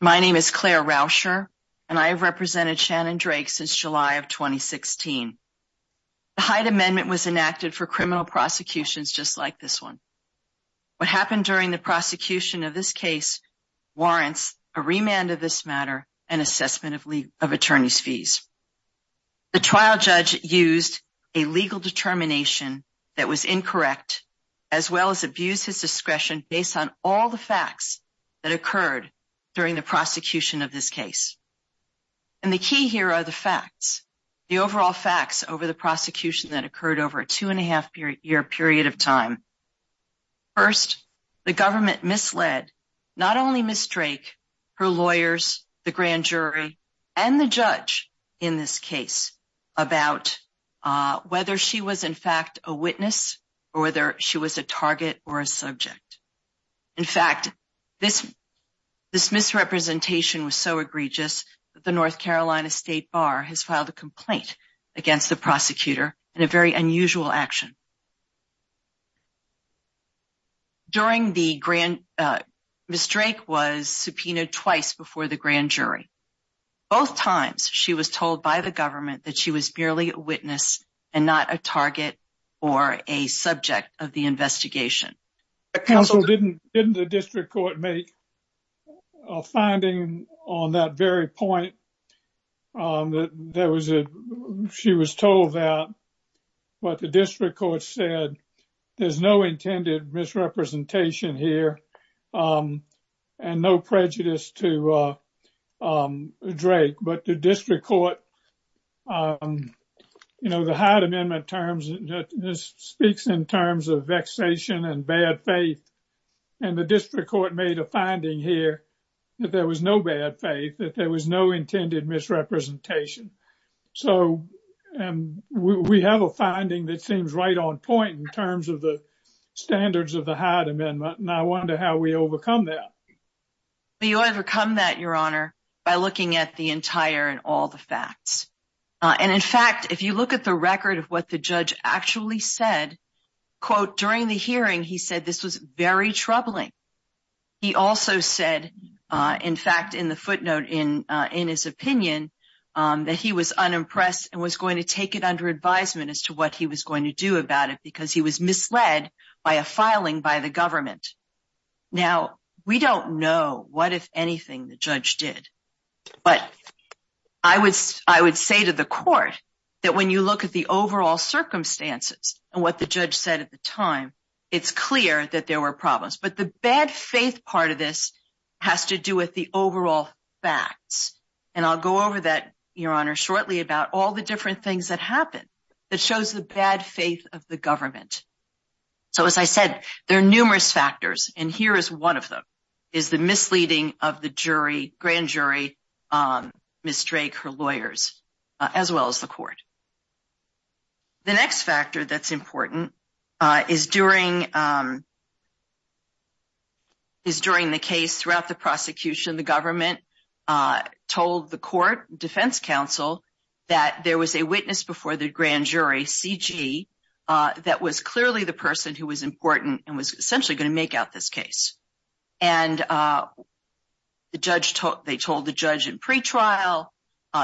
My name is Claire Rauscher and I have represented Shannon Drake since July of 2016. The Hyde Amendment was enacted for criminal prosecutions just like this one. What happened during the prosecution of this case warrants a remand of this matter and assessment of attorney's fees. The trial judge used a legal determination that was incorrect as well as abused his discretion based on all the facts that occurred during the prosecution of this case. And the key here are the facts, the overall facts over the prosecution that occurred over a two-and-a-half year period of time. First, the government misled not only Ms. Drake, her lawyers, the grand jury, and the judge in this case about whether she was in fact a witness or whether she was a target or a subject. In fact, this misrepresentation was so egregious that the North Carolina State Bar has filed a complaint against the prosecutor in a very unusual action. During the grand jury, Ms. Drake was subpoenaed twice before the grand jury. Both times she was told by the government that she was merely a witness and not a target or a subject of the investigation. Counsel, didn't the district court make a finding on that very point that there was a, she was told that, but the district court said there's no intended misrepresentation here and no prejudice to Drake. But the district court, the Hyde Amendment terms, this speaks in terms of vexation and bad faith. And the district court made a finding here that there was no bad faith, that there was no intended misrepresentation. So we have a finding that seems right on point in terms of the standards of the Hyde Amendment. And I wonder how we overcome that. We overcome that, Your Honor, by looking at the entire and all the facts. And in fact, if you look at the record of what the judge actually said, quote, during the hearing, he said this was very troubling. He also said, in fact, in the footnote in his opinion, that he was unimpressed and was going to take it under advisement as to what he was going to do about it because he was misled by a filing by the government. Now, we don't know what, if anything, the judge did. But I would say to the court that when you look at the overall circumstances and what the judge said at the time, it's clear that there were problems. But the bad faith part of this has to do with the overall facts. And I'll go over that, Your Honor, shortly about all the different things that happened that shows the bad faith of the government. So as I said, there are numerous factors. And here is one of them, is the misleading of the jury, grand jury, Ms. Drake, her lawyers, as well as the court. The next factor that's important is during the case throughout the that there was a witness before the grand jury, CG, that was clearly the person who was important and was essentially going to make out this case. And the judge, they told the judge in pretrial,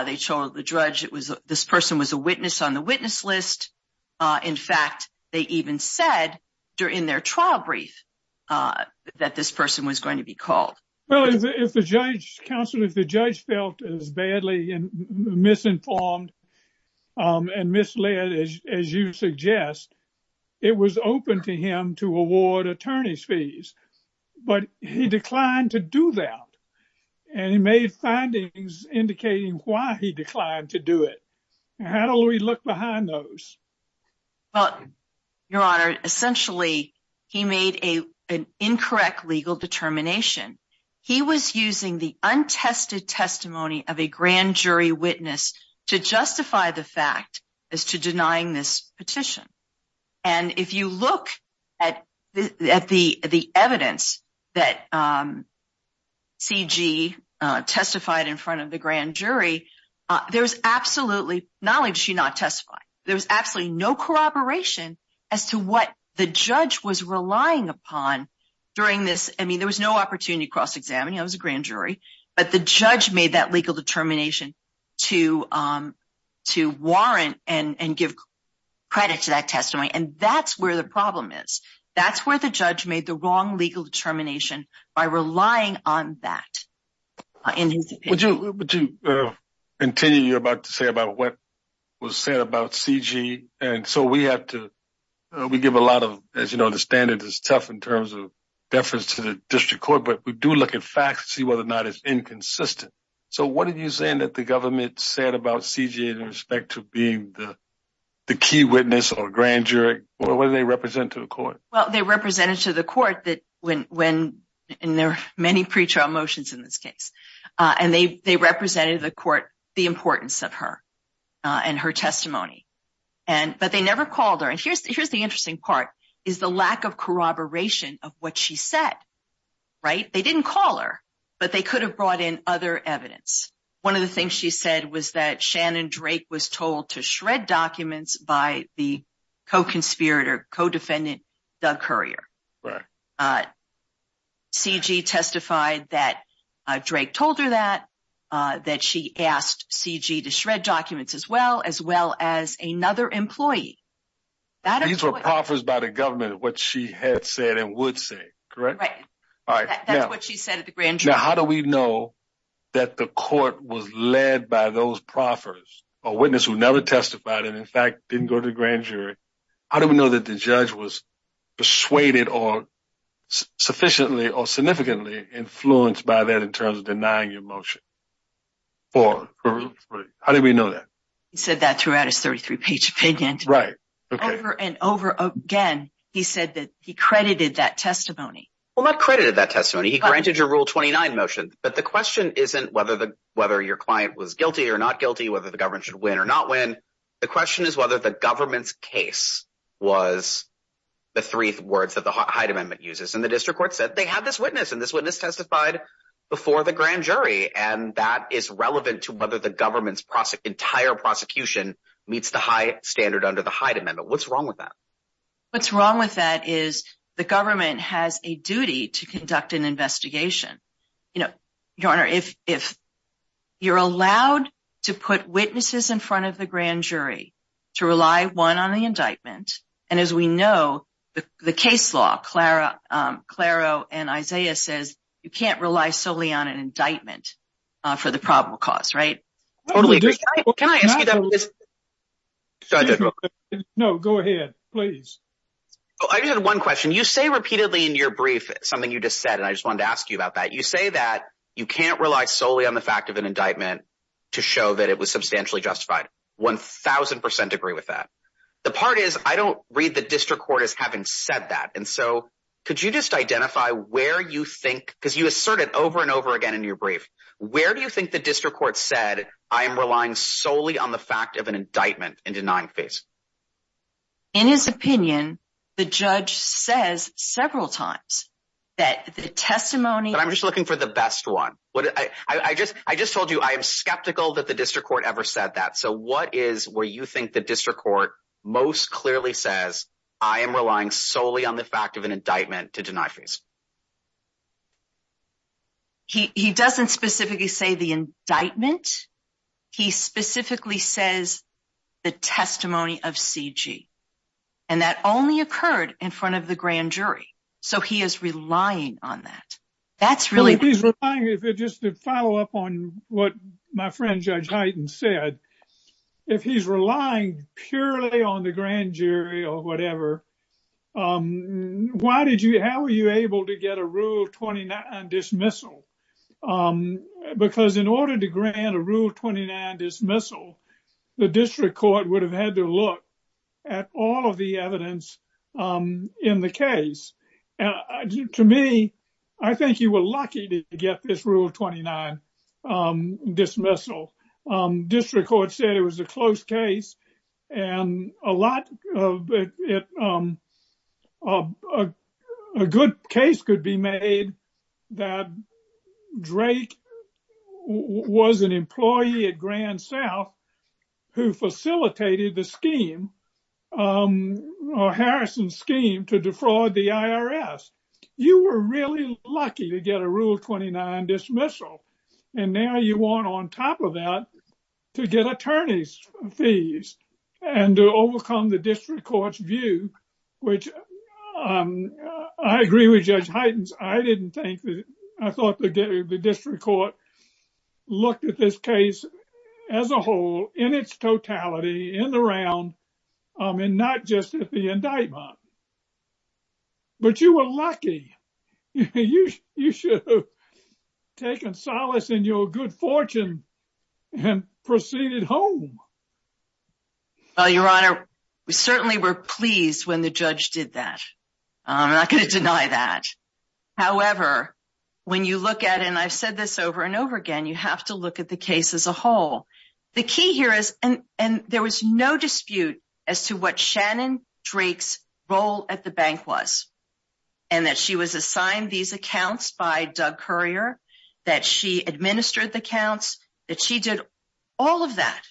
they told the judge it was this person was a witness on the witness list. In fact, they even said during their trial brief that this person was going to be called. Well, if the judge, counsel, if the judge felt as badly misinformed and misled, as you suggest, it was open to him to award attorney's fees. But he declined to do that. And he made findings indicating why he declined to do it. How do we look behind those? Well, Your Honor, essentially, he made a an incorrect legal determination. He was using the untested testimony of a grand jury witness to justify the fact as to denying this petition. And if you look at the evidence that CG testified in front of the grand jury, there was absolutely not only did she not testify, there was absolutely no corroboration as to what the judge was relying upon during this. I mean, there was no opportunity to cross-examine. He was a grand jury. But the judge made that legal determination to to warrant and give credit to that testimony. And that's where the problem is. That's where the judge made the wrong legal determination by relying on that. In his opinion. Would you continue, you're about to say about what was said about CG. And so we have to, we give a lot of, as you know, the standard is tough in terms of deference to the district court. But we do look at facts to see whether or not it's inconsistent. So what are you saying that the government said about CG in respect to being the the key witness or grand jury? What do they represent to the court? Well, they represented to the court that when when in their many pretrial motions in this case, and they represented the court, the importance of her and her testimony. And but they never called her. And here's here's the interesting part is the lack of corroboration of what she said. Right? They didn't call her, but they could have brought in other evidence. One of the things she said was that Shannon Drake was told to shred documents by the co testified that Drake told her that that she asked CG to shred documents as well as well as another employee. These were proffers by the government, what she had said and would say, correct? Right. All right. What she said at the grand jury, how do we know that the court was led by those proffers, a witness who never testified and in fact, didn't go to the grand jury? How do we know that the judge was persuaded or sufficiently or significantly influenced by that in terms of denying your motion for? How do we know that? He said that throughout his 33 page opinion, right? Over and over again. He said that he credited that testimony. Well, not credited that testimony. He granted your rule 29 motion. But the question isn't whether the whether your client was guilty or not guilty, whether the government should win or not win. The question is whether the government's was the three words that the height amendment uses and the district court said they had this witness and this witness testified before the grand jury and that is relevant to whether the government's entire prosecution meets the high standard under the height amendment. What's wrong with that? What's wrong with that is the government has a duty to conduct an investigation. You know, your honor, if if you're allowed to put witnesses in And as we know, the case law, Clara, Claro and Isaiah says you can't rely solely on an indictment for the probable cause, right? Totally. Can I ask you that? No, go ahead, please. I just had one question. You say repeatedly in your brief something you just said, and I just wanted to ask you about that. You say that you can't rely solely on the fact of an indictment to show that it substantially justified. 1000% agree with that. The part is, I don't read the district court is having said that. And so could you just identify where you think because you asserted over and over again in your brief, where do you think the district court said? I am relying solely on the fact of an indictment and denying face in his opinion, the judge says several times that the testimony I'm just looking for the best one. I just I just told you I am skeptical that the court ever said that. So what is where you think the district court most clearly says? I am relying solely on the fact of an indictment to deny face. He doesn't specifically say the indictment. He specifically says the testimony of C. G. And that only occurred in front of the grand jury. So he is relying on that. That's really just a follow up on what my friend Judge Highton said. If he's relying purely on the grand jury or whatever, um, why did you? How were you able to get a rule 29 dismissal? Um, because in order to grant a rule 29 dismissal, the district court would have had to look at all of the evidence, um, in the case. To me, I think you were lucky to get this rule 29 dismissal. District court said it was a close case and a lot of it. Um, uh, a good case could be made that Drake was an employee at Grand South who facilitated the scheme. Um, Harrison scheme to defraud the I. R. S. You were really lucky to get a rule 29 dismissal. And now you want on top of that to get attorney's fees and to overcome the district court's view, which, um, I agree with Judge Highton's. I didn't think I thought the district court looked at this case as a whole in its totality in the round. Um, and not just at the indictment, but you were lucky. You should have taken solace in your good fortune and proceeded home. Well, Your Honor, we certainly were pleased when the judge did that. I'm not gonna deny that. However, when you look at and I've said this over and over again, you have to look at the case as a whole. The key here is and there was no Drake's role at the bank was and that she was assigned these accounts by Doug courier that she administered the counts that she did all of that.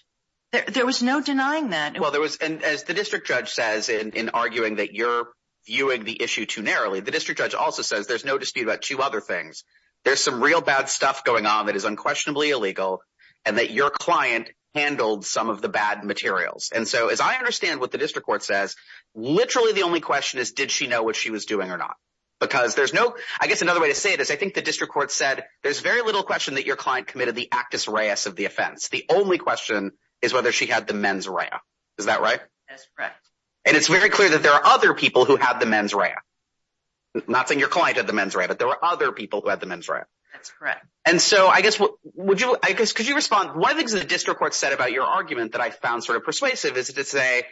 There was no denying that. Well, there was. And as the district judge says in arguing that you're viewing the issue too narrowly, the district judge also says there's no dispute about two other things. There's some real bad stuff going on that is unquestionably illegal and that your client handled some of the bad materials. And so, as I understand what the district court says, literally, the only question is, did she know what she was doing or not? Because there's no, I guess another way to say it is, I think the district court said there's very little question that your client committed the actress Reyes of the offense. The only question is whether she had the men's right. Is that right? And it's very clear that there are other people who have the men's right. Not saying your client of the men's right, but there were other people who had the men's right. That's correct. And so I guess what would you? I guess. Could you respond? One of the district court said about your argument that I found sort of persuasive is to say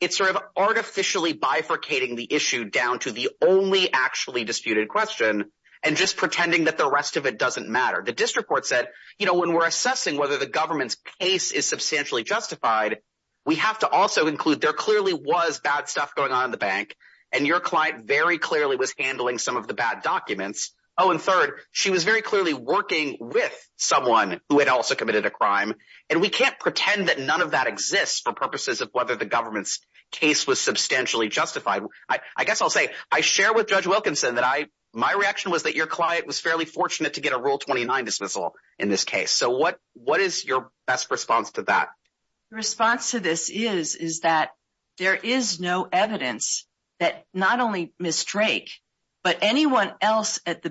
it's sort of artificially bifurcating the issue down to the only actually disputed question and just pretending that the rest of it doesn't matter. The district court said, you know, when we're assessing whether the government's case is substantially justified, we have to also include there clearly was bad stuff going on in the bank and your client very clearly was handling some of the bad documents. Oh, and third, she was very clearly working with someone who had also committed a crime, and we can't pretend that none of that exists for purposes of whether the government's case was substantially justified. I guess I'll say I share with Judge Wilkinson that I my reaction was that your client was fairly fortunate to get a rule 29 dismissal in this case. So what? What is your best response to that response to this is is that there is no evidence that not only Miss Drake, but anyone else at the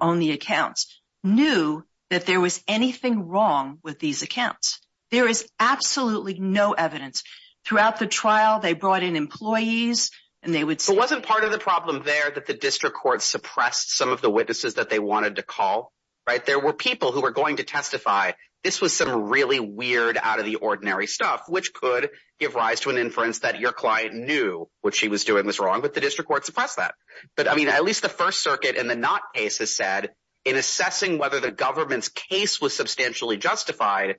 on the accounts knew that there was anything wrong with these accounts. There is absolutely no evidence throughout the trial. They brought in employees and they would wasn't part of the problem there that the district court suppressed some of the witnesses that they wanted to call, right? There were people who were going to testify. This was some really weird out of the ordinary stuff, which could give rise to an inference that your client knew what she was doing was wrong with the district court suppress that. But I mean, at least the First Circuit and the not cases said in assessing whether the government's case was substantially justified,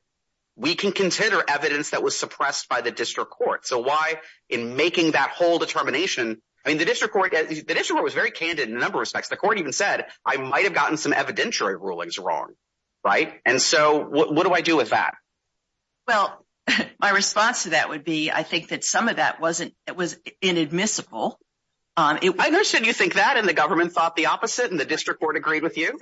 we can consider evidence that was suppressed by the district court. So why in making that whole determination? I mean, the district court, the district was very candid in a number of respects. The court even said I might have gotten some evidentiary rulings wrong, right? And so what do I do with that? Well, my response to that would be, I think that some of that wasn't it was inadmissible. Um, I understand you think that in the government thought the opposite and the district court agreed with you.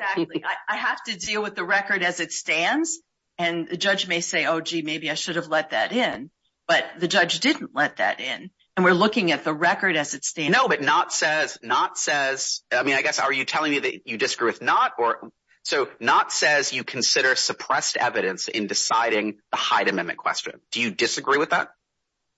I have to deal with the record as it stands. And the judge may say, Oh, gee, maybe I should have let that in. But the judge didn't let that in. And we're looking at the record as it stands. No, but not says not says I mean, I guess are you telling me that you disagree with not or so not says you consider suppressed evidence in deciding the height amendment question. Do you disagree with that?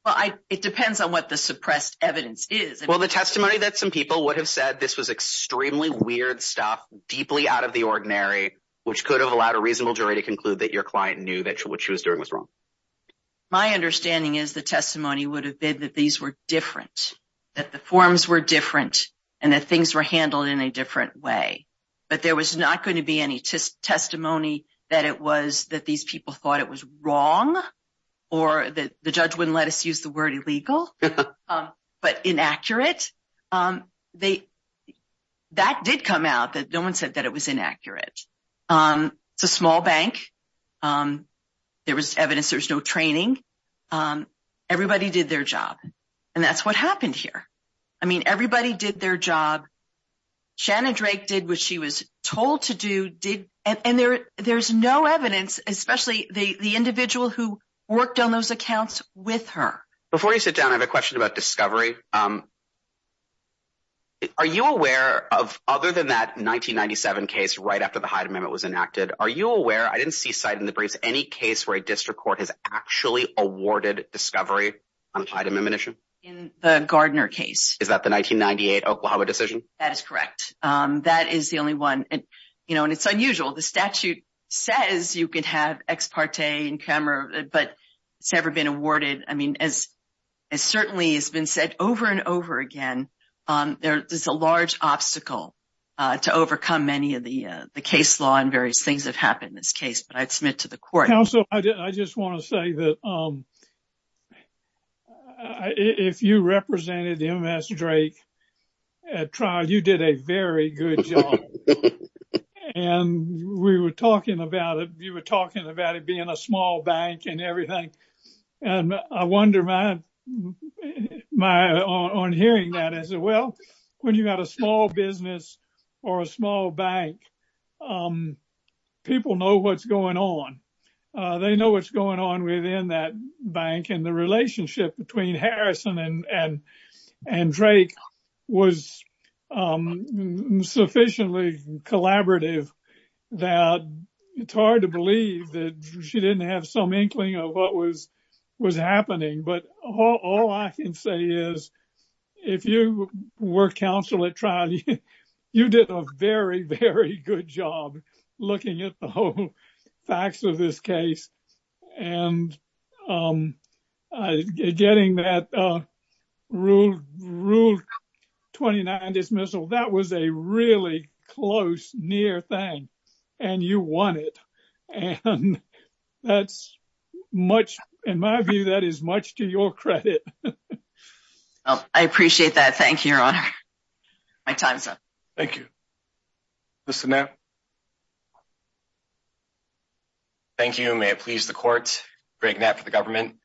Well, it depends on what the suppressed evidence is. Well, the testimony that some people would have said this was extremely weird stuff deeply out of the ordinary, which could have allowed a reasonable jury to conclude that your client knew that what she was doing was wrong. My understanding is the testimony would have been that these were different, that the forms were different and that things were handled in a different way. But there was not going to be any testimony that it was that these people thought it was wrong or that the judge wouldn't let us use the word illegal. Um, but inaccurate. Um, they that did come out that no one said that it was inaccurate. Um, it's a small bank. Um, there was evidence. There's no training. Um, everybody did their job. And that's what happened here. I mean, everybody did their job. Shannon Drake did what she was told to did. And there's no evidence, especially the individual who worked on those accounts with her before you sit down. I have a question about discovery. Um, are you aware of other than that 1997 case right after the height amendment was enacted? Are you aware? I didn't see sight in the briefs. Any case where a district court has actually awarded discovery on item ammunition in the Gardner case? Is that the 1998 Oklahoma decision? That is correct. Um, that is the only one. You know, and it's unusual. The statute says you could have ex parte in camera, but it's never been awarded. I mean, as certainly has been said over and over again. Um, there is a large obstacle, uh, to overcome many of the case law and various things have happened in this case. But I'd submit to the court. So I just want to say that, um, uh, if you represented the M. S. Drake trial, you did a very good job and we were talking about it. You were talking about it being a small bank and everything. And I wonder my my on hearing that as well. When you got a small business or a small bank, um, people know what's going on. They know what's going on within that bank. And the relationship between Harrison and and Drake was, um, sufficiently collaborative that it's hard to believe that she didn't have some inkling of what was was happening. But all I can say is, if you were counsel at trial, you did a very, very good job looking at the whole facts of this case and, um, getting that, uh, ruled ruled 29 dismissal. That was a really close, near thing, and you want it. And that's much in my view. That is much to your credit. I appreciate that. Thank you, Your Honor. My time's up. Thank you. Listen now. Thank you. May it please the court. Greg Knapp for the government.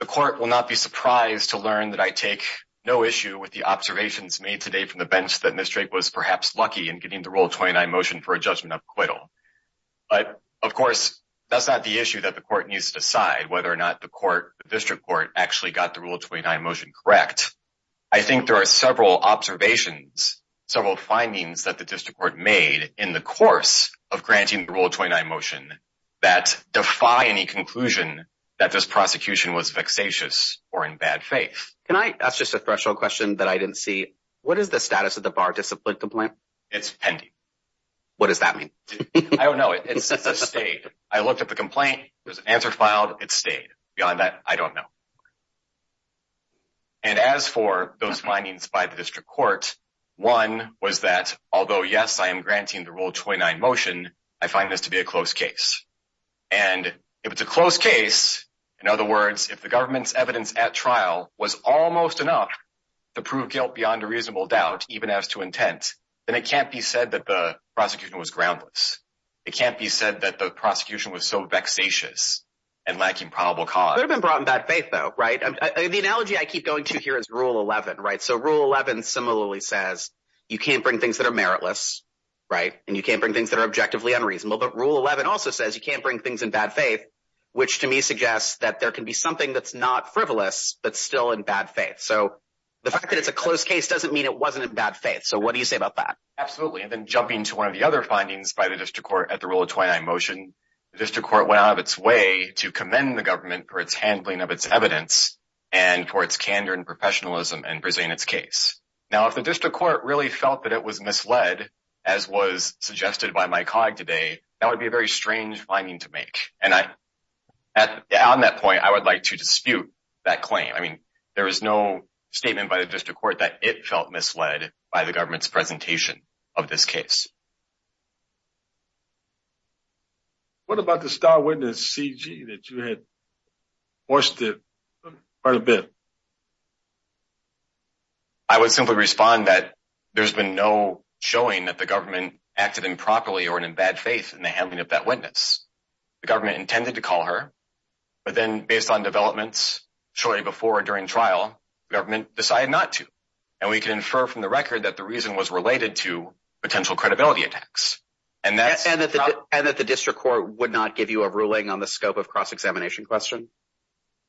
The court will not be surprised to learn that I take no issue with the observations made today from the bench that Mr Drake was perhaps lucky in getting the rule 29 motion for a judgment of acquittal. But of course, that's not the issue that the court needs to decide whether or not the court district court actually got the rule 29 motion correct. I think there are several observations, several findings that the district court made in the course of granting the rule 29 motion that defy any conclusion that this prosecution was vexatious or in bad faith. Can I ask just a threshold question that I didn't see? What is the status of the bar discipline complaint? It's pending. What does that mean? I don't know. It's a state. I looked at the complaint. There's an answer filed. It stayed beyond that. I don't know. And as for those findings by the district court, one was that although, yes, I am granting the rule 29 motion, I find this to be a close case. And if it's a close case, in other words, if the government's evidence at trial was almost enough to prove guilt beyond a reasonable doubt, even as to intent, then it can't be said that the prosecution was groundless. It can't be said that the prosecution was so vexatious and lacking probable cause. It would have been brought in bad faith though, right? The analogy I keep going to here is rule 11, right? So rule 11 similarly says you can't bring things that are meritless, right? And you can't bring things that are objectively unreasonable. But rule 11 also says you can't bring things in bad faith, which to me suggests that there can be something that's not frivolous, but still in bad faith. So the fact that it's a close case doesn't mean it wasn't in bad faith. So what do you say about that? Absolutely. And then jumping to one of the other findings by the district court at the rule of 29 motion, the district court went out of its way to commend the government for its handling of its evidence and for its candor and professionalism in presenting its case. Now, if the district court really felt that it was misled, as was suggested by my colleague today, that would be a very strange finding to make. And on that point, I would like to dispute that claim. I mean, there is no statement by the district court that it felt misled by the government's presentation of this case. What about the star witness, C. G., that you had hoisted quite a bit? I would simply respond that there's been no showing that the government acted improperly or in bad faith in the handling of that witness. The government intended to call her, but then based on developments shortly before or during trial, the government decided not to. And we can infer from the record that the reason was related to potential credibility attacks. And that's and that the and that the district court would not give you a ruling on the scope of cross examination question.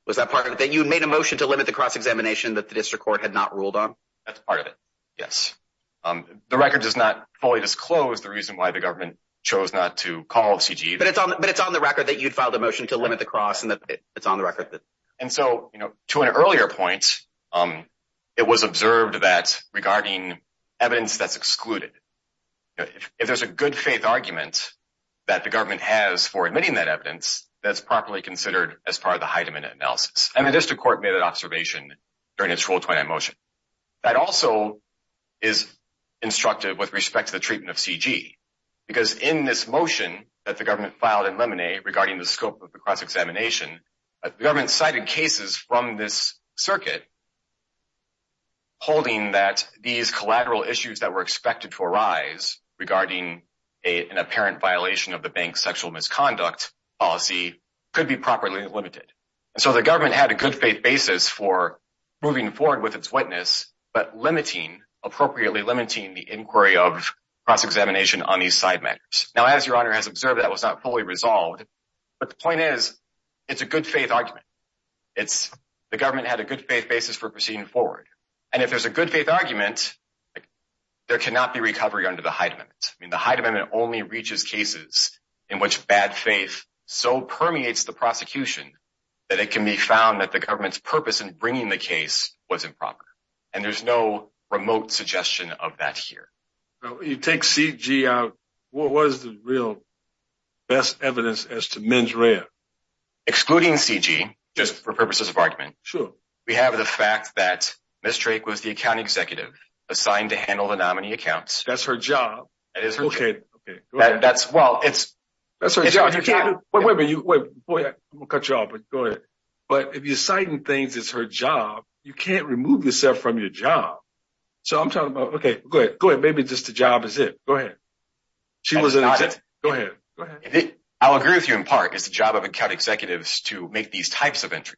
Was that part of that? You made a motion to limit the cross examination that the district court had not ruled on. That's part of it. Yes. Um, the record does not fully disclose the reason why the government chose not to call C. G. But it's on, but it's on the record that you'd filed a motion to limit the cross and that it's on the record. And so, you know, to an earlier point, um, it was observed that regarding evidence that's excluded. If there's a good faith argument that the government has for admitting that evidence that's properly considered as part of the height of an analysis, and the district court made an observation during its full 20 emotion. That also is instructive with respect to the treatment of C. G. Because in this motion that the government filed in lemonade regarding the scope of the cross examination, the government cited cases from this circuit holding that these collateral issues that were expected to arise regarding an apparent violation of the bank's sexual misconduct policy could be properly limited. And so the government had a good faith basis for moving forward with its witness, but limiting appropriately limiting the inquiry of cross examination on these side matters. Now, as your honor has observed, that was not fully resolved. But the point is, it's a good faith argument. It's the government had a good faith basis for proceeding forward. And if there's a good faith argument, there cannot be recovery under the height of it. I mean, the height of it only reaches cases in which bad faith so permeates the prosecution that it can be found that the government's purpose in bringing the case was improper. And there's no remote suggestion of that here. You take C. G. Out. What was the real best evidence as to men's rare excluding C. G. Just for purposes of argument. Sure. We have the fact that Miss Drake was the account executive assigned to handle the nominee accounts. That's her job. It is. Okay. Okay. That's well, it's that's her job. You can't wait for you. Boy, I'm gonna cut you off. But go ahead. But if you're citing things, it's her job. You can't remove yourself from your job. So I'm talking about. Okay, go ahead. Go ahead. Maybe just the job is it. Go ahead. She was. Go ahead. Go ahead. I'll agree with you. In part, it's the job of account executives to make these types of entries.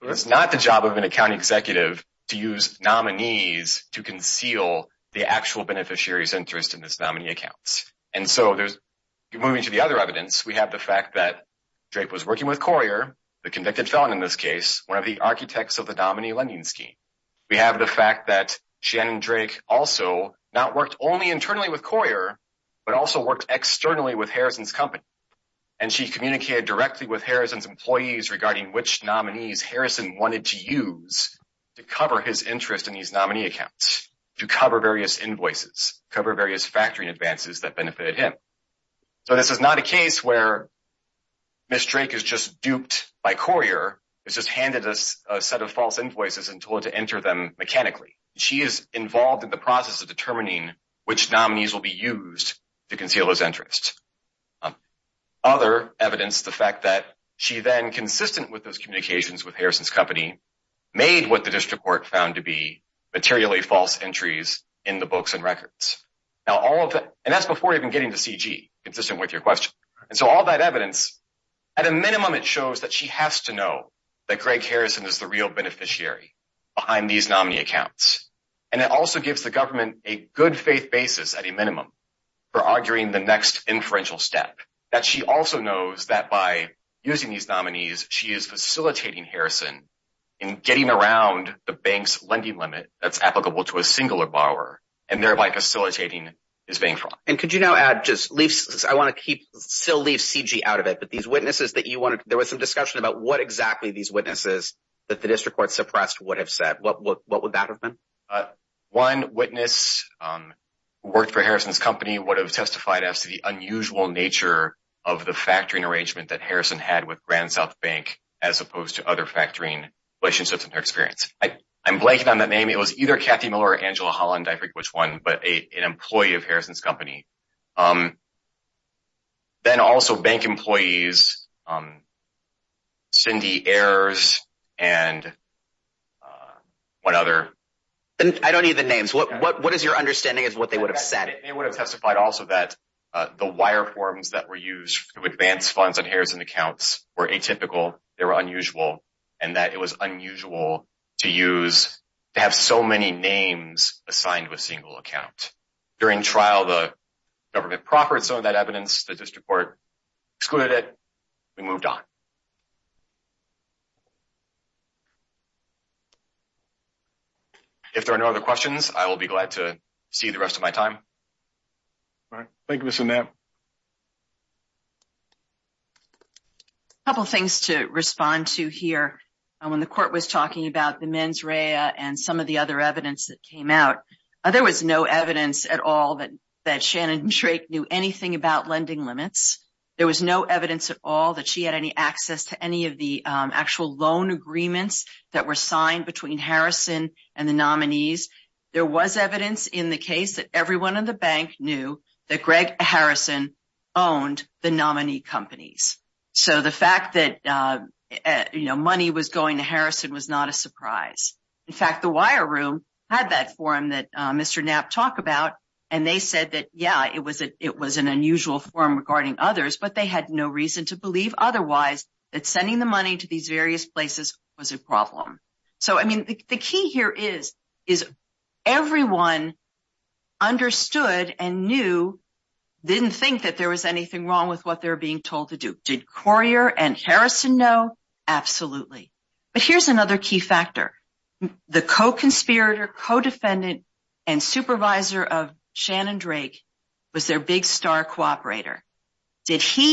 It's not the job of an account executive to use nominees to conceal the actual beneficiaries interest in this nominee accounts. And so there's moving to the other evidence. We have the fact that drape was working with courier, the convicted felon in this case, one of the architects of the nominee lending scheme. We have the fact that Shannon Drake also not worked only internally with courier, but also worked externally with Harrison's company. And she communicated directly with Harrison's employees regarding which nominees Harrison wanted to use to cover his interest in these nominee accounts to cover various invoices, cover various factory advances that benefited him. So this is not a case where Miss Drake is just duped by courier. It's just she is involved in the process of determining which nominees will be used to conceal his interest. Um, other evidence, the fact that she then consistent with those communications with Harrison's company made what the district court found to be materially false entries in the books and records. Now all of that, and that's before even getting to CG consistent with your question. And so all that evidence at a minimum, it shows that she has to And it also gives the government a good faith basis at a minimum for arguing the next inferential step that she also knows that by using these nominees, she is facilitating Harrison and getting around the bank's lending limit that's applicable to a singular borrower and thereby facilitating his bank fraud. And could you now add just leave? I want to keep still leave CG out of it. But these witnesses that you wanted, there was some discussion about what exactly these witnesses that the district court suppressed would have said. What would that have been? Uh, one witness, um, worked for Harrison's company would have testified as to the unusual nature of the factoring arrangement that Harrison had with Grand South Bank as opposed to other factoring relationships in their experience. I'm blanking on that name. It was either Kathy Miller, Angela Holland, I forget which one, but an employee of Harrison's company. Um, then also bank employees. Um, errors and, uh, one other. I don't need the names. What is your understanding is what they would have said. They would have testified also that the wire forms that were used to advance funds and Harrison accounts were atypical. They were unusual and that it was unusual to use to have so many names assigned to a single account during trial. The government proffered some evidence that this report excluded it. We moved on. If there are no other questions, I will be glad to see the rest of my time. All right. Thank you. Listen, that couple things to respond to here. When the court was talking about the men's Raya and some of the other evidence that came out, there was no evidence at all that Shannon Drake knew anything about lending limits. There was no evidence at all that she had any access to any of the actual loan agreements that were signed between Harrison and the nominees. There was evidence in the case that everyone in the bank knew that Greg Harrison owned the nominee companies. So the fact that money was going to Harrison was not a surprise. In fact, the wire room had that forum that Mr. Knapp talked about and they said that, yeah, it was an unusual forum regarding others, but they had no reason to believe otherwise that sending the money to these various places was a problem. The key here is everyone understood and knew, didn't think that there was anything wrong with what they were being told to do. Did he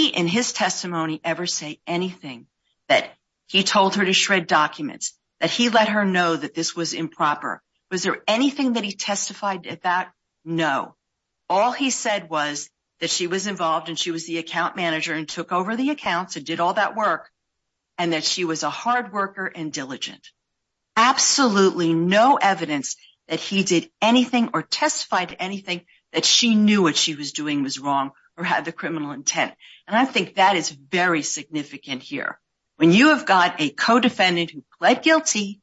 in his testimony ever say anything that he told her to shred documents, that he let her know that this was improper? Was there anything that he testified at that? No. All he said was that she was involved and she was the account manager and took over the accounts and did all that work and that she was a hard worker and diligent. Absolutely no evidence that he did anything or testified to anything that she knew what she was doing was wrong or had the criminal intent. And I think that is very significant here. When you have got a co-defendant who pled guilty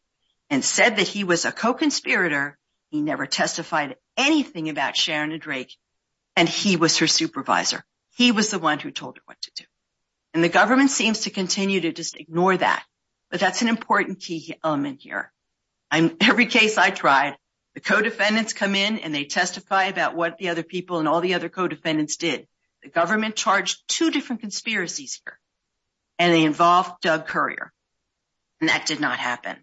and said that he was a co-conspirator, he never testified anything about Sharon and Drake and he was her supervisor. He was the one who told her what to do. And the that's an important key element here. Every case I tried, the co-defendants come in and they testify about what the other people and all the other co-defendants did. The government charged two different conspiracies here and they involved Doug Currier and that did not happen.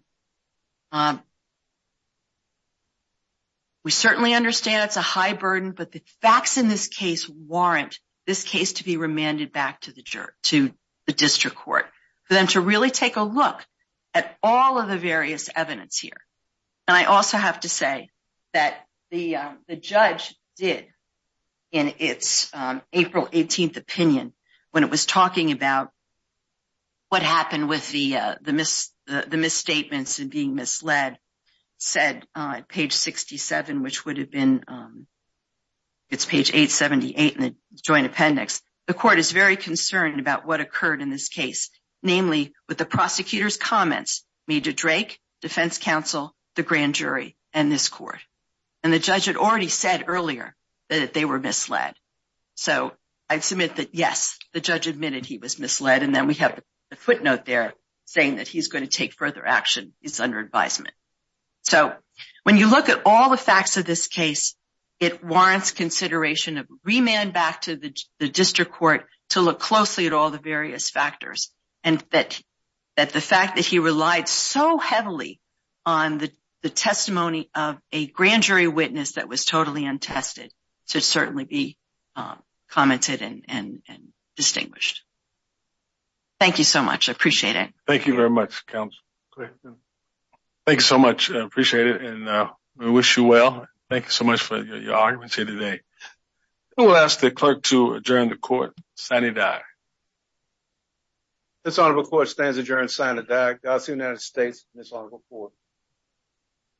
We certainly understand it's a high burden but the facts in this case warrant this case to be remanded back to the district court for them to really take a look at all of the various evidence here. I also have to say that the judge did in its April 18th opinion when it was talking about what happened with the misstatements and being misled said on page 67 which would have been, it's page 878 in the joint appendix, the court is very concerned about what occurred in this case. Namely, with the prosecutor's comments, Major Drake, defense counsel, the grand jury and this court. And the judge had already said earlier that they were misled. So I submit that yes, the judge admitted he was misled and then we have the footnote there saying that he's going to take further action. He's under advisement. So when you look at all the facts of this case, it warrants consideration of remand back to the district court to look closely at all the various factors and that the fact that he relied so heavily on the testimony of a grand jury witness that was totally untested should certainly be commented and appreciated. Thank you very much, counsel. Thank you so much. I appreciate it and we wish you well. Thank you so much for your arguments here today. We'll ask the clerk to adjourn the court. This honorable court stands adjourned.